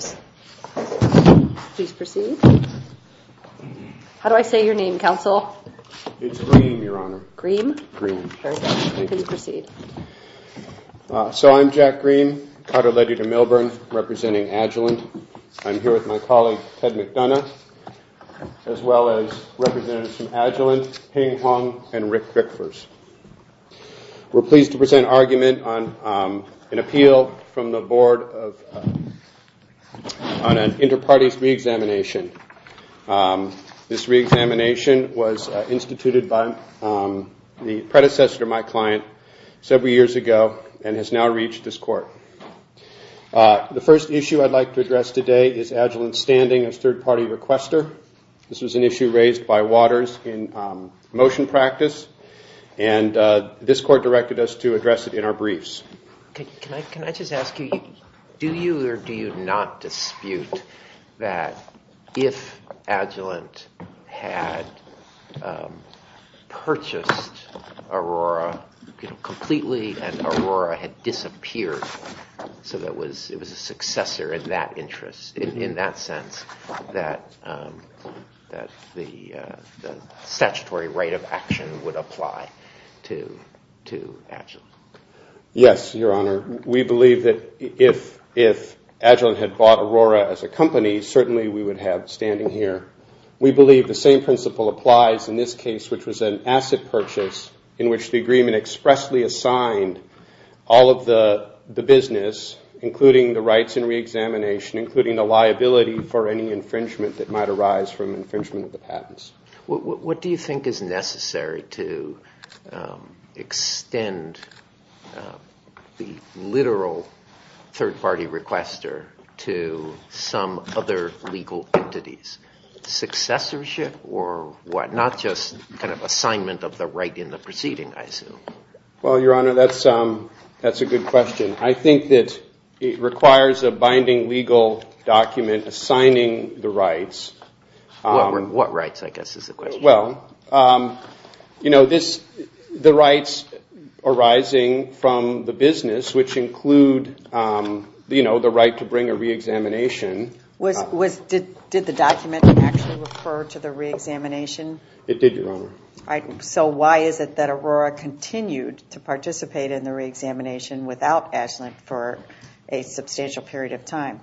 Please proceed. How do I say your name, Counsel? It's Green, Your Honor. Green? Green. Very good. Please proceed. So I'm Jack Green, Carter-Ledy DeMilburn, representing Agilent. I'm here with my colleague Ted McDonough, as well as representatives from Agilent, Hing Hong, and Rick Rickfors. We're pleased to present an argument on an appeal from the board on an inter-parties re-examination. This re-examination was instituted by the predecessor, my client, several years ago and has now reached this court. The first issue I'd like to address today is Agilent's standing as third-party requester. This was an issue raised by Waters in motion practice and this court directed us to address it in our briefs. Can I just ask you, do you or do you not dispute that if Agilent had purchased Aurora completely and Aurora had disappeared so that it was a successor in that interest, in that sense, that the statutory right of action would apply to Agilent? Yes, Your Honor. We believe that if Agilent had bought Aurora as a company, certainly we would have standing here. We believe the same principle applies in this case, which was an asset purchase in which the agreement expressly assigned all of the business, including the rights and re-examination, including the liability for any infringement that might arise from infringement of the patents. What do you think is necessary to extend the literal third-party requester to some other legal entities? Successorship or what? Not just kind of assignment of the right in the proceeding, I assume. Well, Your Honor, that's a good question. I think that it requires a binding legal document assigning the rights. What rights, I guess, is the question? Well, the rights arising from the business, which include the right to bring a re-examination. Did the document actually refer to the re-examination? It did, Your Honor. So why is it that Aurora continued to participate in the re-examination without Agilent for a substantial period of time?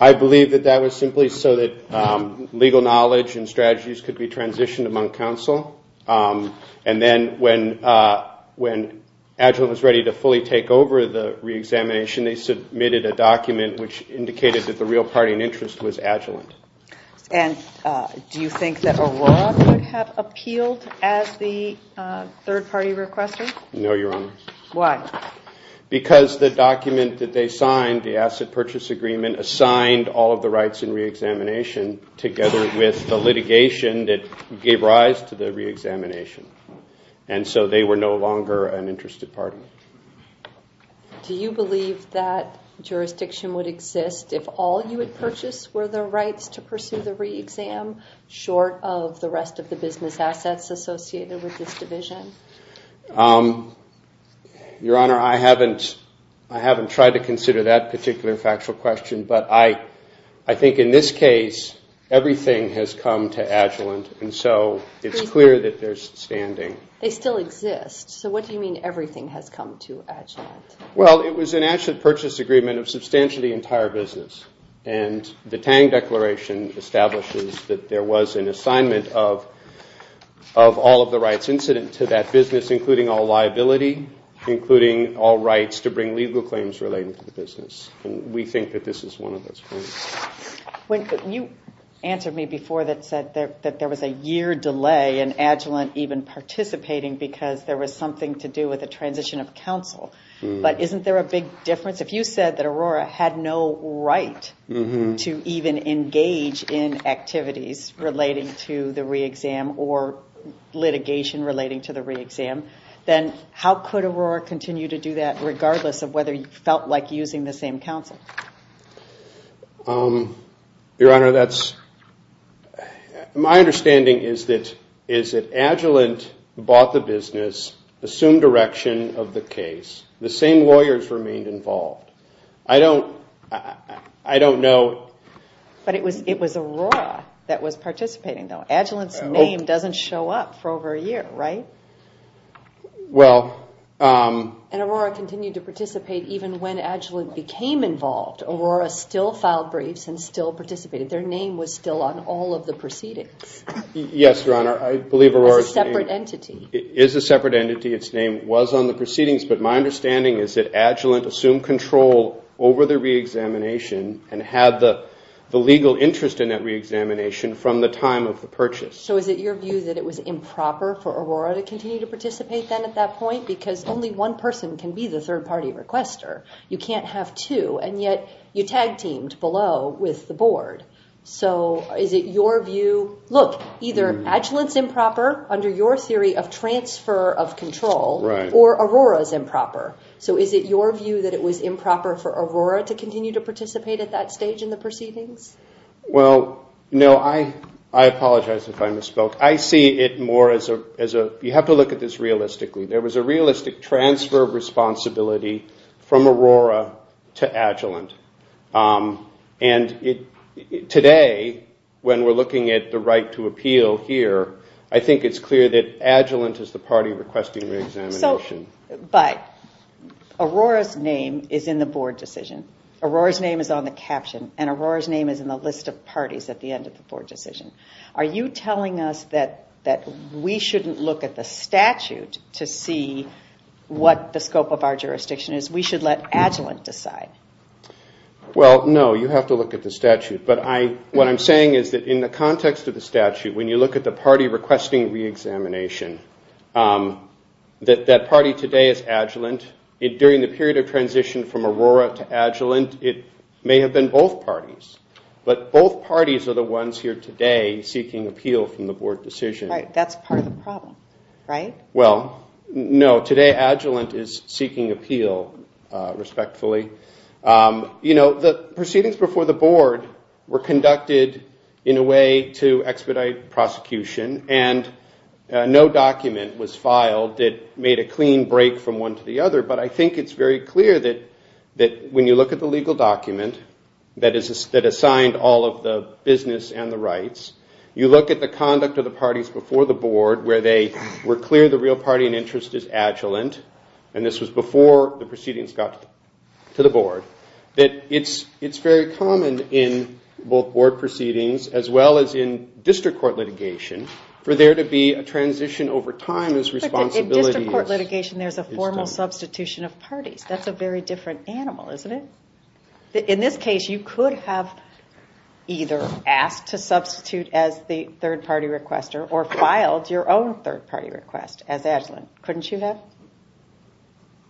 I believe that that was simply so that legal knowledge and strategies could be transitioned among counsel. And then when Agilent was ready to fully take over the re-examination, they submitted a document which indicated that the real party in interest was Agilent. And do you think that Aurora would have appealed as the third-party requester? No, Your Honor. Why? Because the document that they signed, the asset purchase agreement, assigned all of the rights in re-examination together with the litigation that gave rise to the re-examination. And so they were no longer an interest department. Do you believe that jurisdiction would exist if all you had purchased were the rights to pursue the re-exam short of the rest of the business assets associated with this division? Your Honor, I haven't tried to consider that particular factual question. But I think in this case, everything has come to Agilent. And so it's clear that there's standing. They still exist. So what do you mean everything has come to Agilent? Well, it was an asset purchase agreement of substantially the entire business. And the Tang Declaration establishes that there was an assignment of all of the rights incident to that business, including all liability, including all rights to bring legal claims relating to the business. And we think that this is one of those points. You answered me before that said that there was a year delay in Agilent even participating because there was something to do with the transition of counsel. But isn't there a big difference? If you said that Aurora had no right to even engage in activities relating to the re-exam or litigation relating to the re-exam, then how could Aurora continue to do that regardless of whether you felt like using the same counsel? Your Honor, my understanding is that Agilent bought the business, assumed direction of the case. The same lawyers remained involved. I don't know. But it was Aurora that was participating, though. Agilent's name doesn't show up for over a year, right? Well... And Aurora continued to participate even when Agilent became involved. Aurora still filed briefs and still participated. Their name was still on all of the proceedings. Yes, Your Honor. I believe Aurora's name... It was a separate entity. It is a separate entity. Its name was on the proceedings. But my understanding is that Agilent assumed control over the re-examination and had the legal interest in that re-examination from the time of the purchase. So is it your view that it was improper for Aurora to continue to participate then at that point? Because only one person can be the third-party requester. You can't have two. And yet you tag-teamed below with the board. So is it your view... Look, either Agilent's improper under your theory of transfer of control or Aurora's improper. So is it your view that it was improper for Aurora to continue to participate at that stage in the proceedings? Well, no. I apologize if I misspoke. I see it more as a... You have to look at this realistically. There was a realistic transfer of responsibility from Aurora to Agilent. And today, when we're looking at the right to appeal here, I think it's clear that Agilent is the party requesting re-examination. But Aurora's name is in the board decision. Aurora's name is on the caption. And Aurora's name is in the list of parties at the end of the board decision. Are you telling us that we shouldn't look at the statute to see what the scope of our jurisdiction is? We should let Agilent decide. Well, no. You have to look at the statute. But what I'm saying is that in the context of the statute, when you look at the party requesting re-examination, that that party today is Agilent. During the period of transition from Aurora to Agilent, it may have been both parties. But both parties are the ones here today seeking appeal from the board decision. That's part of the problem, right? where they were clear the real party in interest is Agilent. And this was before the proceedings got to the board. That it's very common in both board proceedings, as well as in district court litigation, for there to be a transition over time as responsibility is... filed your own third party request as Agilent. Couldn't you have?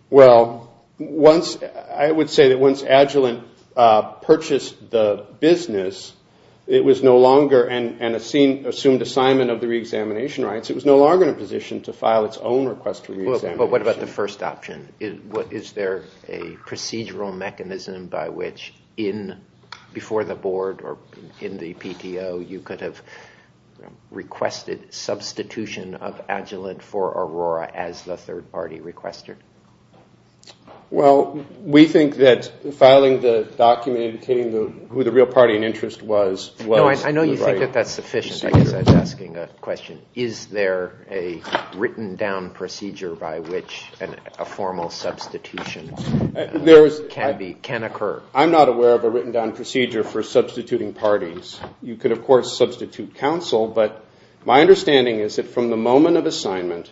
Well, I would say that once Agilent purchased the business, it was no longer an assumed assignment of the re-examination rights. It was no longer in a position to file its own request for re-examination. But what about the first option? Is there a procedural mechanism by which, before the board or in the PTO, you could have requested substitution of Agilent for Aurora as the third party requester? Well, we think that filing the document indicating who the real party in interest was... I know you think that that's sufficient. I guess I'm asking a question. Is there a written down procedure by which a formal substitution can occur? I'm not aware of a written down procedure for substituting parties. You could, of course, substitute counsel. But my understanding is that from the moment of assignment,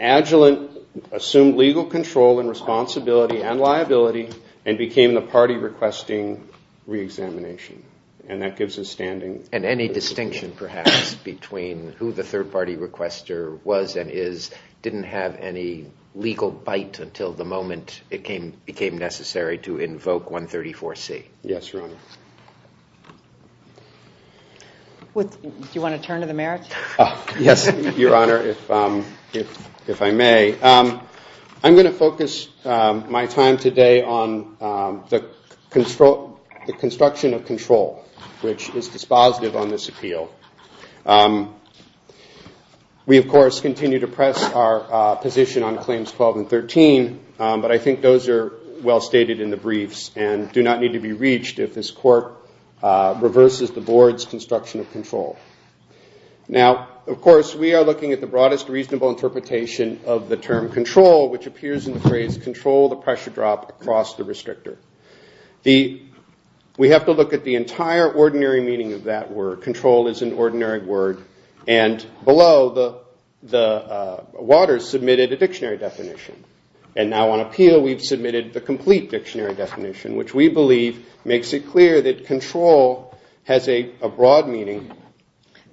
Agilent assumed legal control and responsibility and liability and became the party requesting re-examination. And that gives us standing. And any distinction, perhaps, between who the third party requester was and is didn't have any legal bite until the moment it became necessary to invoke 134C? Yes, Your Honor. Do you want to turn to the mayor? Yes, Your Honor, if I may. I'm going to focus my time today on the construction of control, which is dispositive on this appeal. We, of course, continue to press our position on claims 12 and 13, but I think those are well stated in the briefs and do not need to be reached if this court reverses the board's construction of control. Now, of course, we are looking at the broadest reasonable interpretation of the term control, which appears in the phrase control the pressure drop across the restrictor. We have to look at the entire ordinary meaning of that word. Control is an ordinary word. And below, Waters submitted a dictionary definition. And now on appeal, we've submitted the complete dictionary definition, which we believe makes it clear that control has a broad meaning.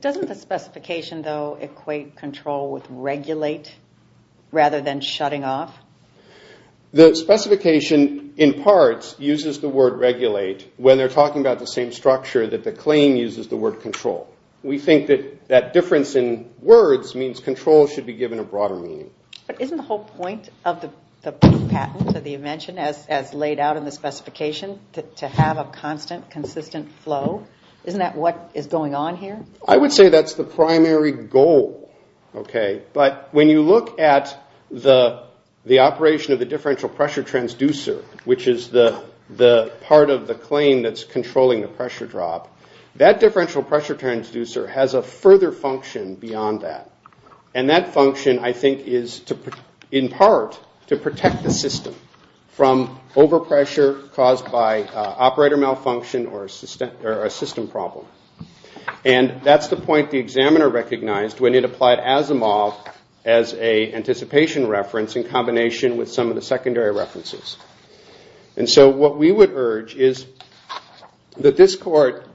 Doesn't the specification, though, equate control with regulate rather than shutting off? The specification, in part, uses the word regulate when they're talking about the same structure that the claim uses the word control. We think that that difference in words means control should be given a broader meaning. But isn't the whole point of the patent, as you mentioned, as laid out in the specification, to have a constant, consistent flow? Isn't that what is going on here? I would say that's the primary goal. But when you look at the operation of the differential pressure transducer, which is the part of the claim that's controlling the pressure drop, that differential pressure transducer has a further function beyond that. And that function, I think, is in part to protect the system from overpressure caused by operator malfunction or a system problem. And that's the point the examiner recognized when it applied Asimov as an anticipation reference in combination with some of the secondary references. And so what we would urge is that this court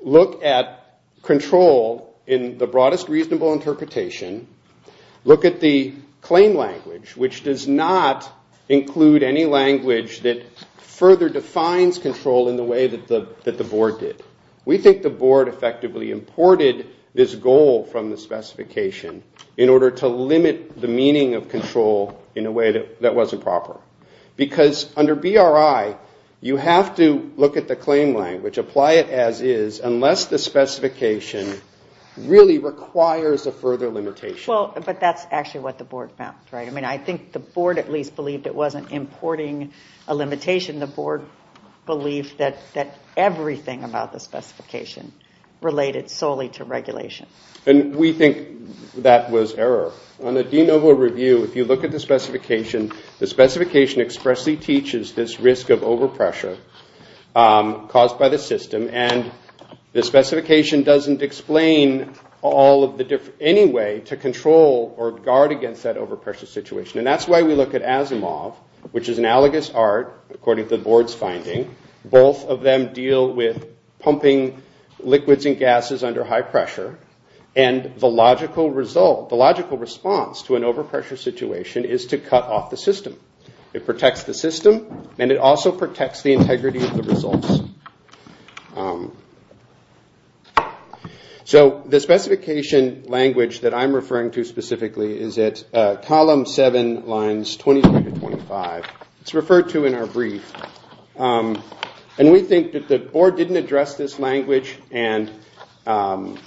look at control in the broadest reasonable interpretation. Look at the claim language, which does not include any language that further defines control in the way that the board did. We think the board effectively imported this goal from the specification in order to limit the meaning of control in a way that wasn't proper. Because under BRI, you have to look at the claim language, apply it as is, unless the specification really requires a further limitation. Well, but that's actually what the board found, right? I mean, I think the board at least believed it wasn't importing a limitation. The board believed that everything about the specification related solely to regulation. And we think that was error. On the de novo review, if you look at the specification, the specification expressly teaches this risk of overpressure caused by the system. And the specification doesn't explain any way to control or guard against that overpressure situation. And that's why we look at Asimov, which is analogous art, according to the board's finding. Both of them deal with pumping liquids and gases under high pressure. And the logical response to an overpressure situation is to cut off the system. It protects the system, and it also protects the integrity of the results. So the specification language that I'm referring to specifically is at column 7, lines 23 to 25. It's referred to in our brief. And we think that the board didn't address this language. And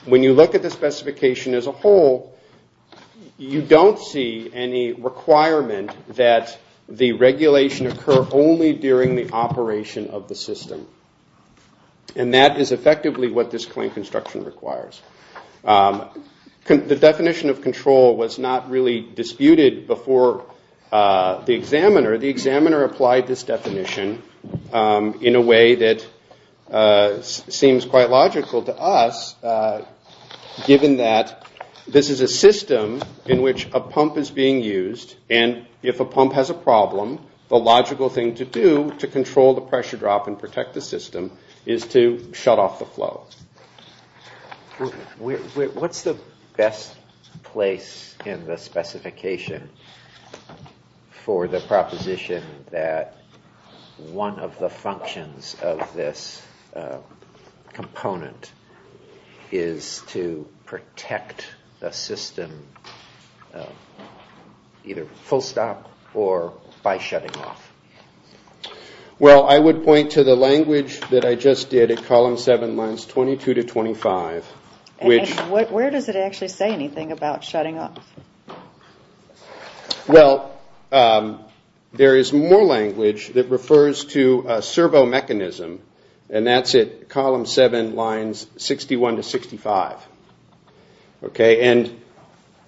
when you look at the specification as a whole, you don't see any requirement that the regulation occur only during the operation of the system. And that is effectively what this claim construction requires. The definition of control was not really disputed before the examiner. The examiner applied this definition in a way that seems quite logical to us, given that this is a system in which a pump is being used. And if a pump has a problem, the logical thing to do to control the pressure drop and protect the system is to shut off the flow. What's the best place in the specification for the proposition that one of the functions of this component is to protect the system either full stop or by shutting off? Well, I would point to the language that I just did at column 7, lines 22 to 25. And where does it actually say anything about shutting off? Well, there is more language that refers to a servo mechanism, and that's at column 7, lines 61 to 65. And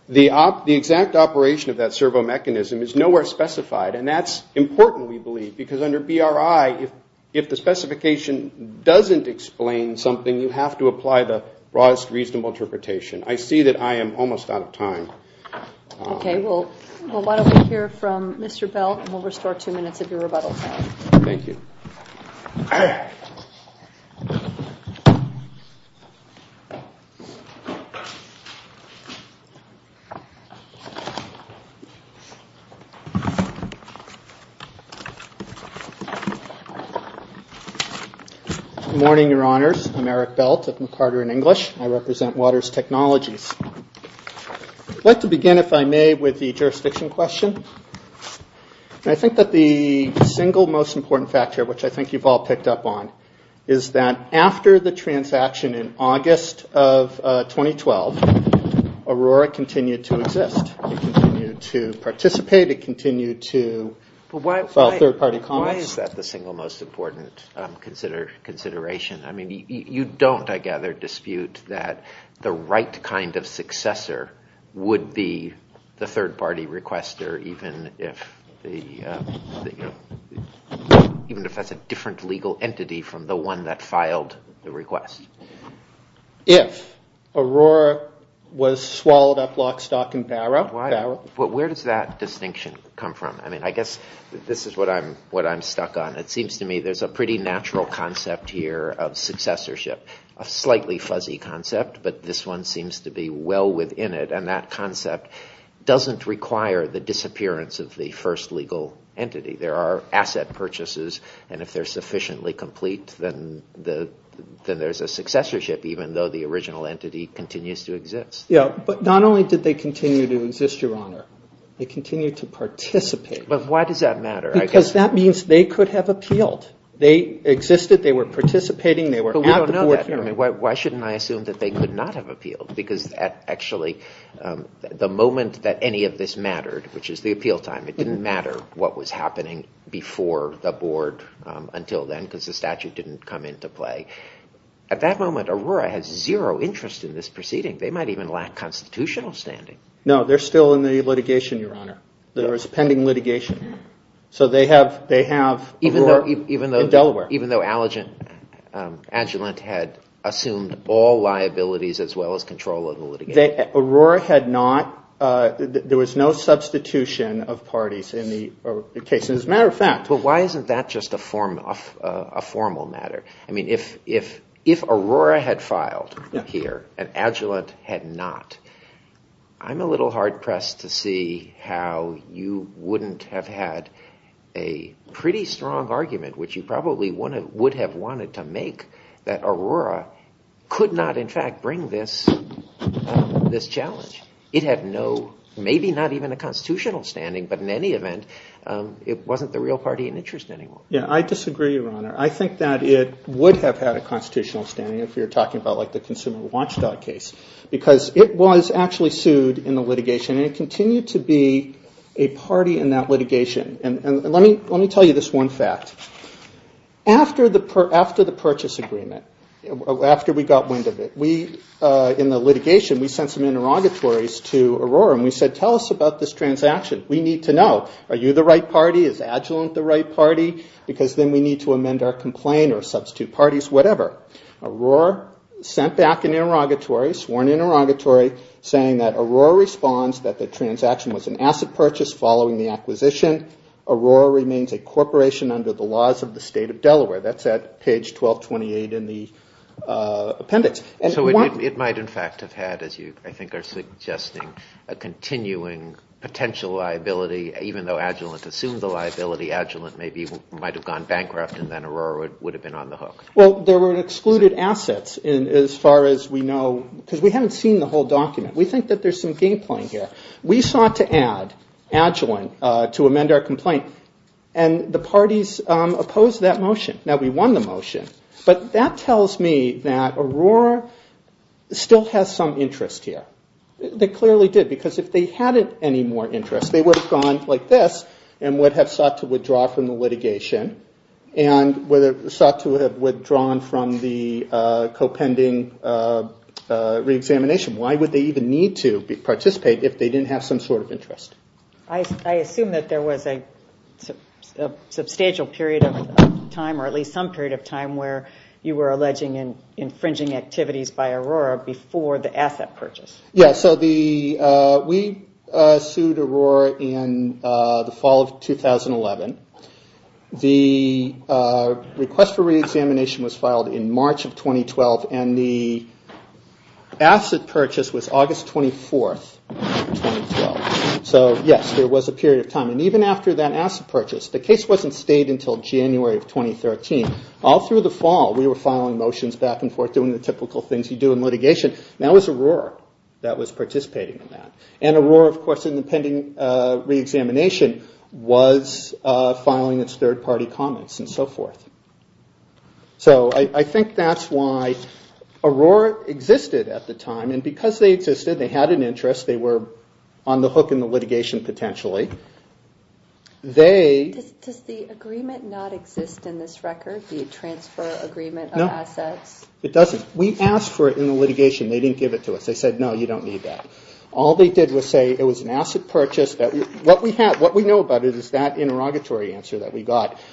the exact operation of that servo mechanism is nowhere specified, and that's important, we believe. Because under BRI, if the specification doesn't explain something, you have to apply the broadest reasonable interpretation. I see that I am almost out of time. Okay, we'll let over here from Mr. Belt, and we'll restore two minutes of your rebuttal time. Thank you. Good morning, Your Honors. I'm Eric Belt of MacArthur and English. I represent Waters Technologies. I'd like to begin, if I may, with the jurisdiction question. I think that the single most important factor, which I think you've all picked up on, is that after the transaction in August of 2012, Aurora continued to exist. It continued to participate. It continued to file third-party comments. Why is that the single most important consideration? I mean, you don't, I gather, dispute that the right kind of successor would be the third-party requester, even if that's a different legal entity from the one that filed the request. If Aurora was swallowed up lock, stock, and barrel. But where does that distinction come from? I mean, I guess this is what I'm stuck on. It seems to me there's a pretty natural concept here of successorship. A slightly fuzzy concept, but this one seems to be well within it, and that concept doesn't require the disappearance of the first legal entity. There are asset purchases, and if they're sufficiently complete, then there's a successorship, even though the original entity continues to exist. Yeah, but not only did they continue to exist, Your Honor. They continued to participate. But why does that matter? Because that means they could have appealed. They existed, they were participating, they were at the board hearing. But we don't know that. Why shouldn't I assume that they could not have appealed? Because actually, the moment that any of this mattered, which is the appeal time, it didn't matter what was happening before the board until then, because the statute didn't come into play. At that moment, Aurora has zero interest in this proceeding. They might even lack constitutional standing. No, they're still in the litigation, Your Honor. There is pending litigation. So they have Aurora in Delaware. Even though Agilent had assumed all liabilities as well as control of the litigation. Aurora had not. There was no substitution of parties in the case. As a matter of fact. But why isn't that just a formal matter? I mean, if Aurora had filed here and Agilent had not, I'm a little hard-pressed to see how you wouldn't have had a pretty strong argument, which you probably would have wanted to make, that Aurora could not in fact bring this challenge. It had no, maybe not even a constitutional standing, but in any event, it wasn't the real party in interest anymore. Yeah, I disagree, Your Honor. I think that it would have had a constitutional standing if you're talking about like the Consumer Watchdog case. Because it was actually sued in the litigation and it continued to be a party in that litigation. And let me tell you this one fact. After the purchase agreement, after we got wind of it, we, in the litigation, we sent some interrogatories to Aurora and we said, tell us about this transaction. We need to know, are you the right party? Is Agilent the right party? Because then we need to amend our complaint or substitute parties, whatever. Aurora sent back an interrogatory, sworn interrogatory, saying that Aurora responds that the transaction was an asset purchase following the acquisition. Aurora remains a corporation under the laws of the state of Delaware. That's at page 1228 in the appendix. So it might in fact have had, as you I think are suggesting, a continuing potential liability, even though Agilent assumed the liability. Agilent maybe might have gone bankrupt and then Aurora would have been on the hook. Well, there were excluded assets as far as we know, because we haven't seen the whole document. We think that there's some game playing here. We sought to add Agilent to amend our complaint and the parties opposed that motion. Now, we won the motion, but that tells me that Aurora still has some interest here. They clearly did, because if they hadn't any more interest, they would have gone like this and would have sought to withdraw from the litigation and sought to have withdrawn from the co-pending reexamination. Why would they even need to participate if they didn't have some sort of interest? I assume that there was a substantial period of time or at least some period of time where you were alleging infringing activities by Aurora before the asset purchase. Yeah, so we sued Aurora in the fall of 2011. The request for reexamination was filed in March of 2012 and the asset purchase was August 24th, 2012. So, yes, there was a period of time. And even after that asset purchase, the case wasn't stayed until January of 2013. All through the fall, we were filing motions back and forth doing the typical things you do in litigation. That was Aurora that was participating in that. And Aurora, of course, in the pending reexamination was filing its third party comments and so forth. So I think that's why Aurora existed at the time. And because they existed, they had an interest, they were on the hook in the litigation potentially. Does the agreement not exist in this record, the transfer agreement of assets? No, it doesn't. We asked for it in the litigation. They didn't give it to us. They said, no, you don't need that. All they did was say it was an asset purchase. What we know about it is that interrogatory answer doesn't exist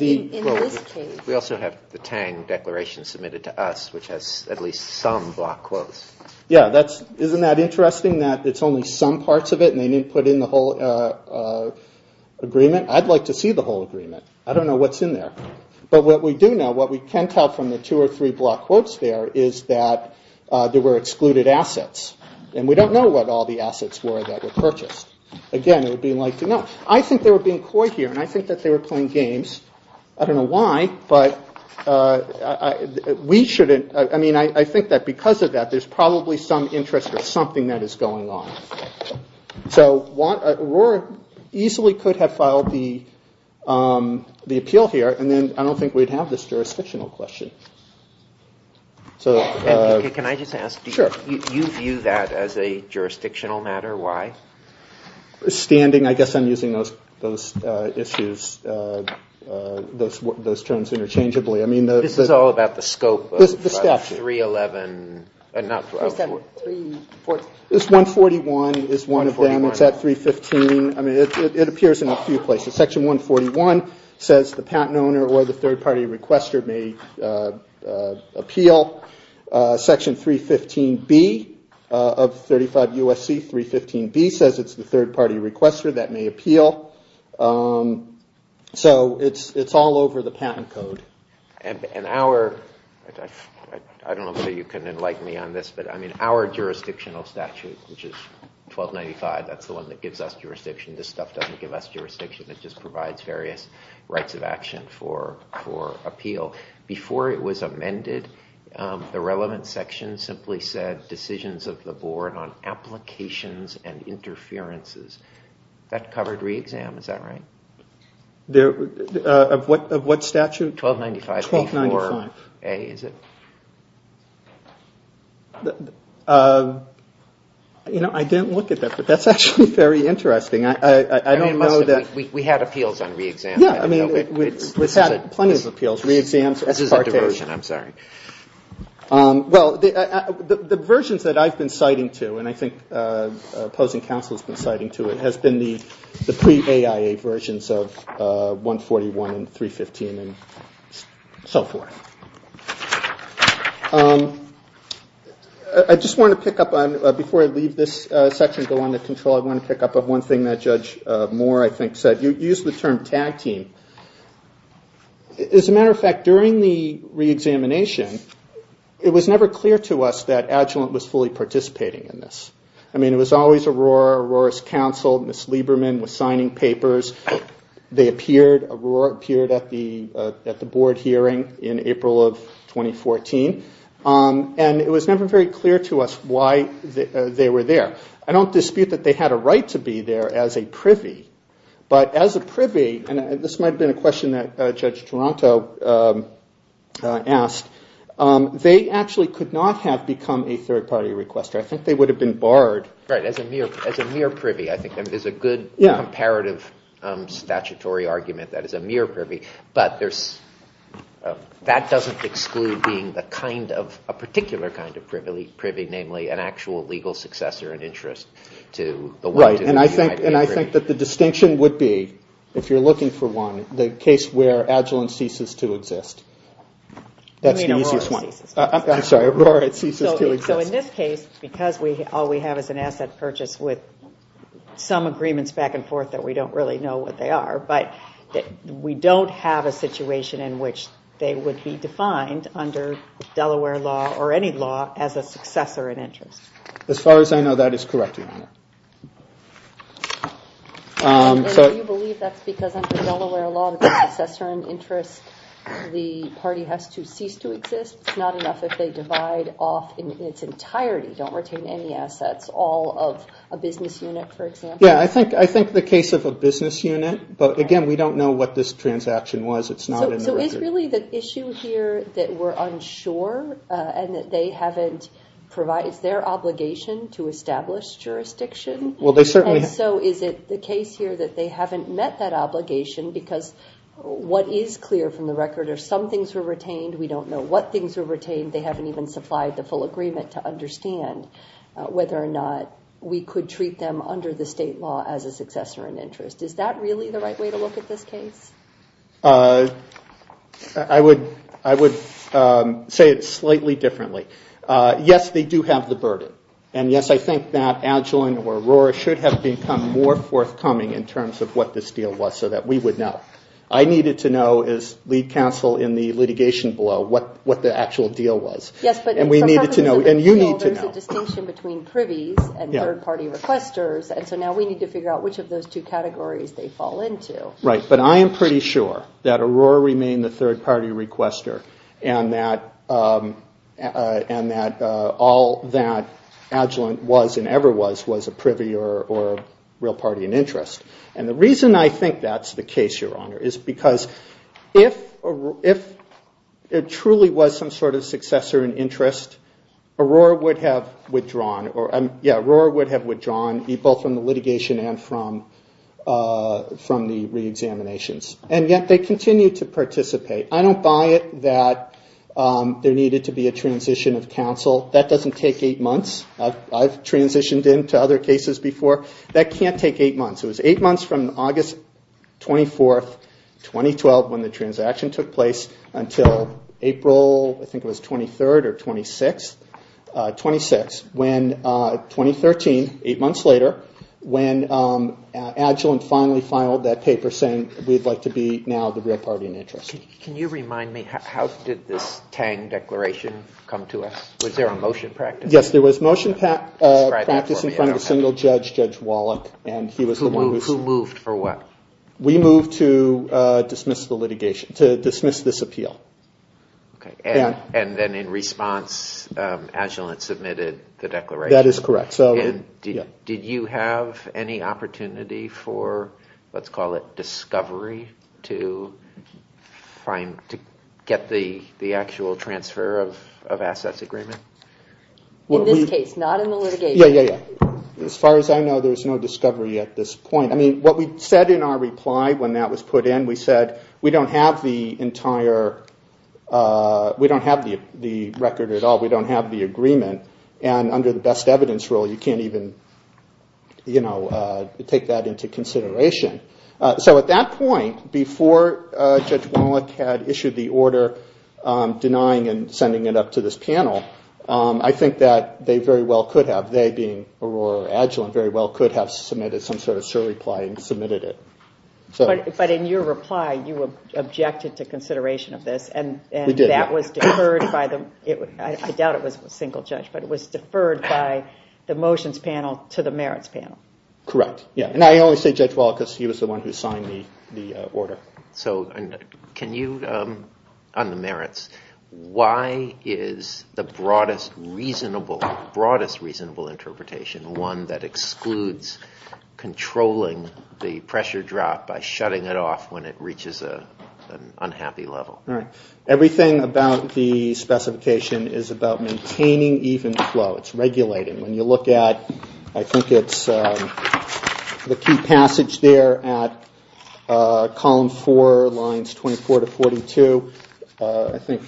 in this case. We also have the Tang Declaration submitted to us, which has at least some block quotes. Yeah, isn't that interesting that it's only some parts of it and they didn't put in the whole agreement? I'd like to see the whole agreement. I don't know what's in there. But what we do know, what we can tell from the two or three block quotes there is that there were excluded assets. And we don't know what all the assets were that were purchased. Again, it would be nice to know. I think they were being coy here, and I think that they were playing games. I don't know why, but we shouldn't. I mean, I think that because of that, there's probably some interest or something that is going on. So Aurora easily could have filed the appeal here, and then I don't think we'd have this jurisdictional question. So... Can I just ask, do you view that as a jurisdictional matter? Why? Why are you using those issues, those terms interchangeably? This is all about the scope of 311. This 141 is one of them. It's at 315. It appears in a few places. Section 141 says the patent owner or the third-party requester may appeal. Section 315B of 35 U.S.C. 315B says it's the third-party requester who may appeal. So it's all over the patent code. And our... I don't know whether you can enlighten me on this, but our jurisdictional statute, which is 1295, that's the one that gives us jurisdiction. This stuff doesn't give us jurisdiction. It just provides various rights of action for appeal. Before it was amended, the relevant section simply said decisions of the board on applications and interferences. Re-exam, is that right? Of what statute? 1295. 1295. I didn't look at that, but that's actually very interesting. I don't know that... We had appeals on re-exam. We've had plenty of appeals, re-exams. This is a diversion, I'm sorry. Well, the diversions that I've been citing to, and I think opposing counsel has been citing to it, has been the pre-AIA versions of 141 and 315 and so forth. I just want to pick up on, before I leave this section and go on to control, I want to pick up on one thing that Judge Moore, I think, said. You used the term tag team. As a matter of fact, during the re-examination, it was never clear to us that Agilent was fully participating in this. I mean, it was always Aurora, Aurora's counsel, Ms. Lieberman was signing papers. They appeared, Aurora appeared at the board hearing in April of 2014. And it was never very clear to us why they were there. I don't dispute that they had a right to be there as a privy, but as a privy, and this might have been a question that Judge Toronto asked, they actually could not have become a third-party requester. I think they would have been barred. It's a mere privy, I think. There's a good comparative statutory argument that it's a mere privy, but that doesn't exclude being a particular kind of privy, namely an actual legal successor and interest to the one to whom you might be privy. And I think that the distinction would be, if you're looking for one, the case where Agilent ceases to exist. You mean Aurora ceases to exist. I'm sorry, Aurora ceases to exist. So in this case, there are some agreements back and forth that we don't really know what they are, but we don't have a situation in which they would be defined under Delaware law or any law as a successor and interest. As far as I know, that is correct, Your Honor. And do you believe that's because under Delaware law, the successor and interest, the party has to cease to exist? It's not enough if they divide off in its entirety, don't retain any assets, like a business unit, for example. Yeah, I think the case of a business unit, but again, we don't know what this transaction was. It's not in the record. So is really the issue here that we're unsure and that they haven't provided their obligation to establish jurisdiction? Well, they certainly have. And so is it the case here that they haven't met that obligation because what is clear from the record are some things were retained. We don't know what things were retained. And that's under the state law as a successor and interest. Is that really the right way to look at this case? I would say it slightly differently. Yes, they do have the burden. And yes, I think that Agilent or Aurora should have become more forthcoming in terms of what this deal was so that we would know. I needed to know, as lead counsel in the litigation below, what the actual deal was. And we needed to know, and you need to know. There's a distinction between privies and third-party requesters. And so now we need to figure out which of those two categories they fall into. Right, but I am pretty sure that Aurora remained the third-party requester and that all that Agilent was and ever was, was a privy or real party and interest. And the reason I think that's the case, Your Honor, is because if it truly was some sort of successor and interest, Aurora would have withdrawn. Yeah, Aurora would have withdrawn both from the litigation and from the reexaminations. And yet they continue to participate. I don't buy it that there needed to be a transition of counsel. That doesn't take eight months. I've transitioned into other cases before. That can't take eight months. It was eight months from August 24, 2012 when the transaction took place until April, I think it was 23rd or 26th. When 2013, eight months later, when Agilent finally filed that paper saying we'd like to be now the real party and interest. Can you remind me, how did this Tang Declaration come to us? Was there a motion practice? Yes, there was motion practice in front of a single judge, Judge Wallach. Who moved for what? We moved to dismiss the litigation, to dismiss this appeal. And then in response, Agilent submitted the declaration. That is correct. Did you have any opportunity for, let's call it discovery, to get the actual transfer of assets agreement? In this case, not in the litigation. Yeah, yeah, yeah. As far as I know, there's no discovery at this point. What we said in our reply when that was put in, we said we don't have the entire, we don't have the agreement. And under the best evidence rule, you can't even take that into consideration. So at that point, before Judge Wallach had issued the order denying and sending it up to this panel, I think that they very well could have, they being Aurora or Agilent, very well could have submitted some sort of surreply and submitted it. But in your reply, you objected to consideration of this. We did. We thought it was single-judge, but it was deferred by the motions panel to the merits panel. Correct. And I only say Judge Wallach because he was the one who signed the order. So can you, on the merits, why is the broadest reasonable, broadest reasonable interpretation one that excludes controlling the pressure drop by shutting it off when it reaches an unhappy level? Everything about the specification is about maintaining even flow. It's regulating. When you look at, I think it's the key passage there at column four, lines 24 to 42, I think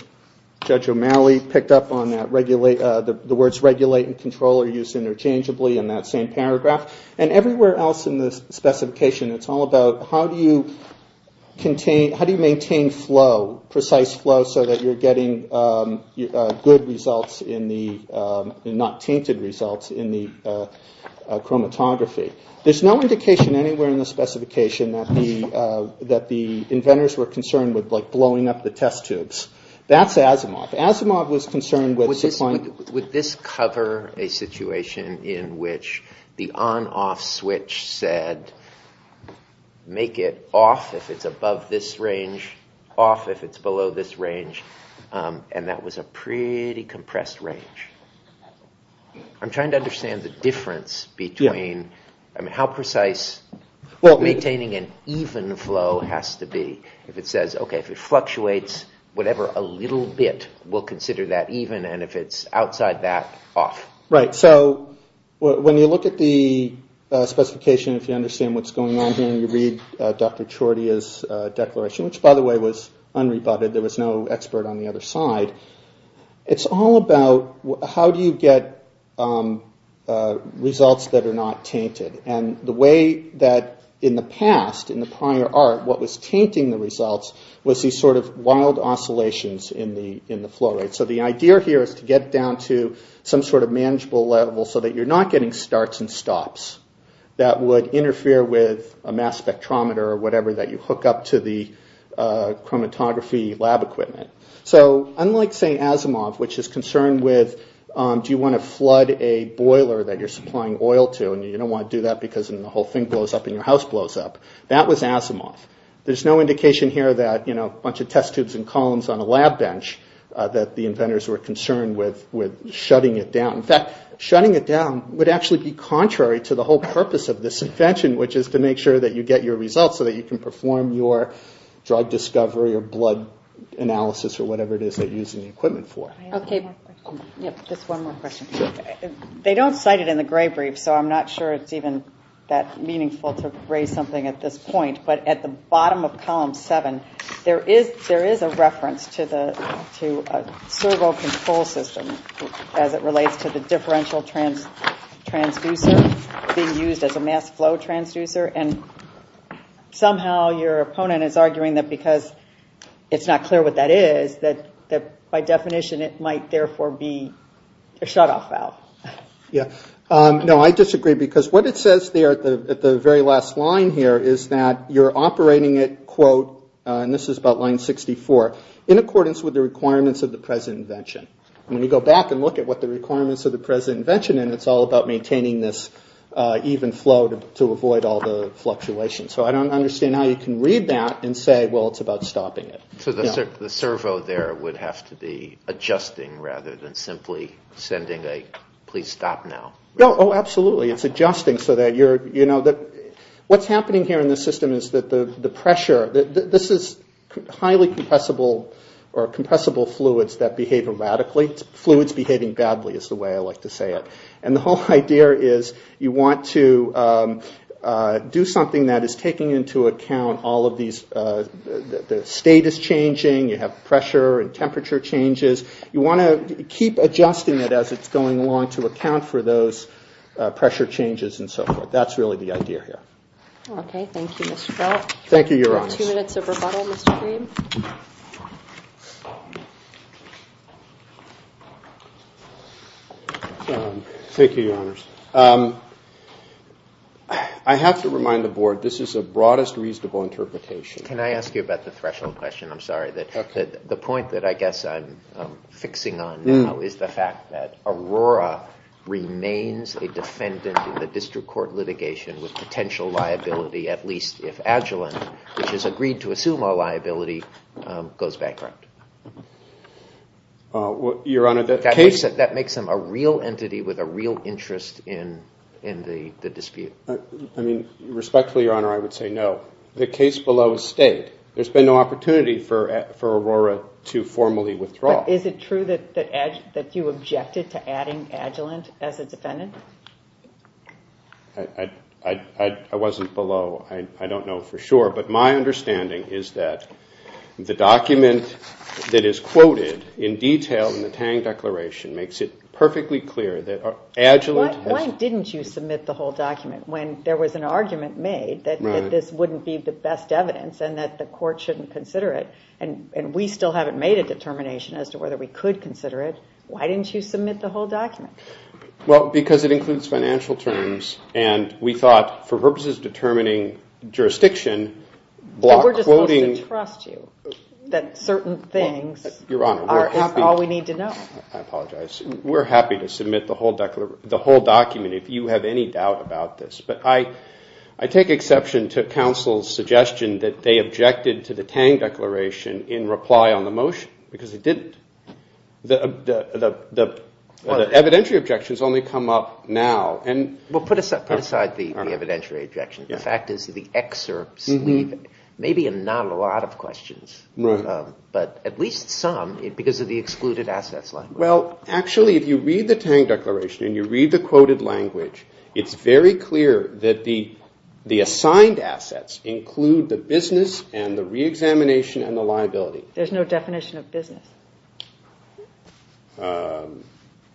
Judge O'Malley picked up on that, the words regulate and control are used interchangeably in that same paragraph. And everywhere else in the specification, it's all about how do you maintain flow, precise flow, so that you're getting good results in the, not tainted results in the chromatography. There's no indication anywhere in the specification that the inventors were concerned with blowing up the test tubes. That's Asimov. Asimov was concerned with... Would this cover a situation in which the on-off switch said make it off if it's above this range, off if it's below this range, and that was a pretty compressed range. I'm trying to understand the difference between how precise, maintaining an even flow has to be. If it says, okay, if it fluctuates, whatever a little bit, we'll consider that even, and if it's outside that, off. Right, so when you look at the specification, if you understand what's going on here and you read Dr. Chorty's declaration, which by the way was unrebutted, there was no expert on the other side, it's all about how do you get results that are not tainted, and the way that in the past, in the prior art, what was tainting the results was these sort of wild oscillations in the flow rate. So the idea here is to get down to some sort of manageable level so that you're not getting starts and stops that would interfere with a mass spectrometer or whatever that you hook up to the chromatography lab equipment. So unlike, say, Asimov, which is concerned with do you want to flood a boiler that you're supplying oil to and you don't want to do that because then the whole thing blows up and your house blows up, that was Asimov. There's no indication here that a bunch of test tubes and columns on a lab bench that the inventors were concerned with shutting it down. In fact, shutting it down would actually be contrary to the whole purpose of this invention, which is to make sure that you get your results so that you can perform your drug discovery or blood analysis or whatever it is that you're using the equipment for. Just one more question. They don't cite it in the gray brief, so I'm not sure it's even that meaningful to raise something at this point, but at the bottom of column seven, there is a reference to a servo control system as it relates to the differential transducer being used as a mass flow transducer, and somehow your opponent is arguing that because it's not clear what that is, that by definition it might therefore be a shutoff valve. Yeah. No, I disagree because what it says there at the very last line here is that you're operating it, quote, and this is about line 64, in accordance with the requirements of the present invention. When you go back and look at what the requirements of the present invention, and it's all about maintaining this even flow to avoid all the fluctuations. So I don't understand how you can read that and say, well, it's about stopping it. So the servo there would have to be adjusting rather than simply sending a, please stop now. Oh, absolutely. It's adjusting so that you're, what's happening here in the system is that the pressure, this is highly compressible fluids that behave erratically. Fluids behaving badly is the way I like to say it. And the whole idea is you want to do something that is taking into account all of these, the state is changing, you have pressure and temperature changes. You want to keep adjusting it as it's going along to account for those pressure changes and so forth. That's really the idea here. Okay. Thank you, Mr. Felt. Thank you, Your Honors. We have two minutes of rebuttal, Mr. Green. Thank you, Your Honors. I have to remind the board this is a broadest reasonable interpretation. Can I ask you about the threshold question? I'm sorry. The point that I guess I'm fixing on now is the fact that Aurora remains a defendant in the district court litigation with potential liability at least if Agilent, which has agreed to assume our liability, goes bankrupt. Your Honor, the case... That makes them a real entity with a real interest in the dispute. I mean, respectfully, Your Honor, I would say no. The case below has stayed. There's been no opportunity for Aurora to formally withdraw. But is it true that you objected to adding Agilent as a defendant? I wasn't below Agilent. I don't know for sure. But my understanding is that the document that is quoted in detail in the Tang Declaration makes it perfectly clear that Agilent has... Why didn't you submit the whole document when there was an argument made that this wouldn't be the best evidence and that the court shouldn't consider it and we still haven't made a determination as to whether we could consider it? Why didn't you submit the whole document? Well, because it includes financial terms and we thought for purposes of the jurisdiction... But we're just supposed to trust you that certain things are all we need to know. I apologize. We're happy to submit the whole document if you have any doubt about this. But I take exception to counsel's suggestion that they objected to the Tang Declaration in reply on the motion because they didn't. The evidentiary objections only come up now. Well, put aside the evidentiary objections. The excerpts leave maybe not a lot of questions, but at least some because of the excluded assets language. Well, actually, if you read the Tang Declaration and you read the quoted language, it's very clear that the assigned assets include the business and the reexamination and the liability. There's no definition of business.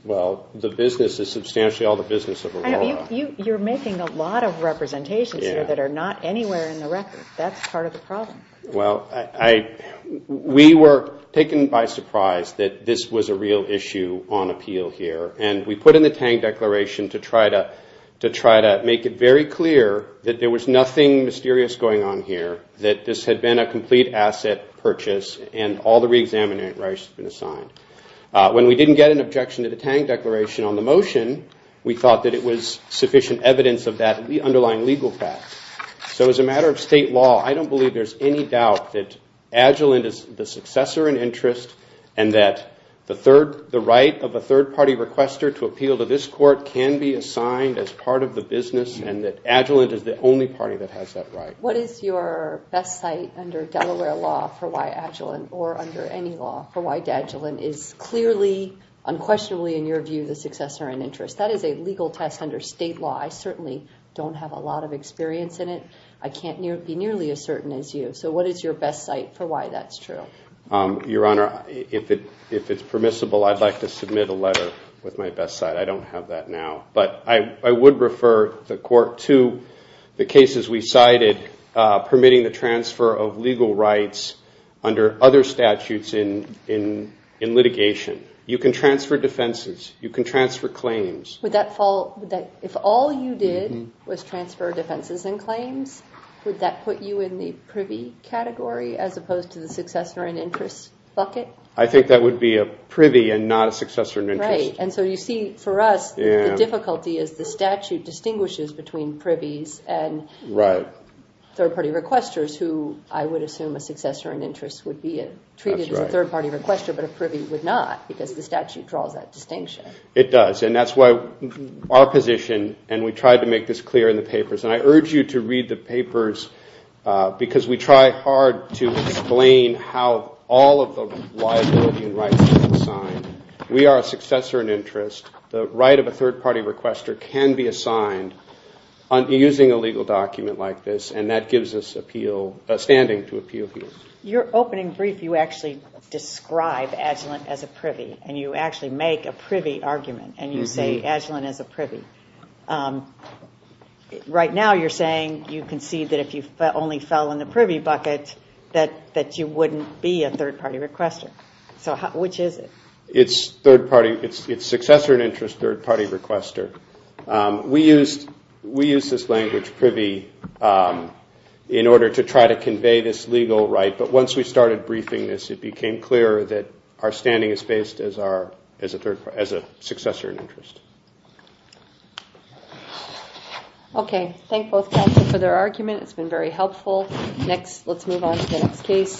Well, the business is substantially all the business of Aurora. You're making a lot of representations here anywhere in the record. That's part of the problem. Well, we were taken by surprise that this was a real issue on appeal here. And we put in the Tang Declaration to try to make it very clear that there was nothing mysterious going on here, that this had been a complete asset purchase and all the reexamination rights had been assigned. When we didn't get an objection to the Tang Declaration on the motion, we thought that it was sufficient evidence of that underlying legal fact. So as a matter of state law, I don't believe there's any doubt that Agilent is the successor in interest and that the right of a third-party requester to appeal to this court can be assigned as part of the business and that Agilent is the only party that has that right. What is your best site under Delaware law for why Agilent or under any law for why Agilent is clearly, unquestionably, in your view, the successor in interest? That is a legal test under state law. We don't have a lot of experience in it. I can't be nearly as certain as you. So what is your best site for why that's true? Your Honor, if it's permissible, I'd like to submit a letter with my best site. I don't have that now. But I would refer the court to the cases we cited permitting the transfer of legal rights under other statutes in litigation. You can transfer defenses. You can transfer claims. Would that fall... If all you did was transfer defenses and claims, would that put you in the privy category as opposed to the successor in interest bucket? I think that would be a privy and not a successor in interest. Right. And so you see, for us, the difficulty is the statute distinguishes between privies and third-party requesters who I would assume a successor in interest would be treated as a third-party requester, but a privy would not because the statute draws that distinction. That's our position, and we tried to make this clear in the papers. And I urge you to read the papers because we try hard to explain how all of the liability and rights are assigned. We are a successor in interest. The right of a third-party requester can be assigned using a legal document like this, and that gives us standing to appeal here. Your opening brief, you actually describe Agilent as a privy, and you actually make a privy argument, and you say Agilent is a privy. Right now you're saying you concede that if you only fell in the privy bucket that you wouldn't be a third-party requester. So which is it? It's successor in interest, third-party requester. We use this language, privy, in order to try to convey this legal right, but once we started briefing this, it became clear that our standing is based as a successor in interest. Okay. Thank both counsel for their argument. It's been very helpful. Let's move on to the next case.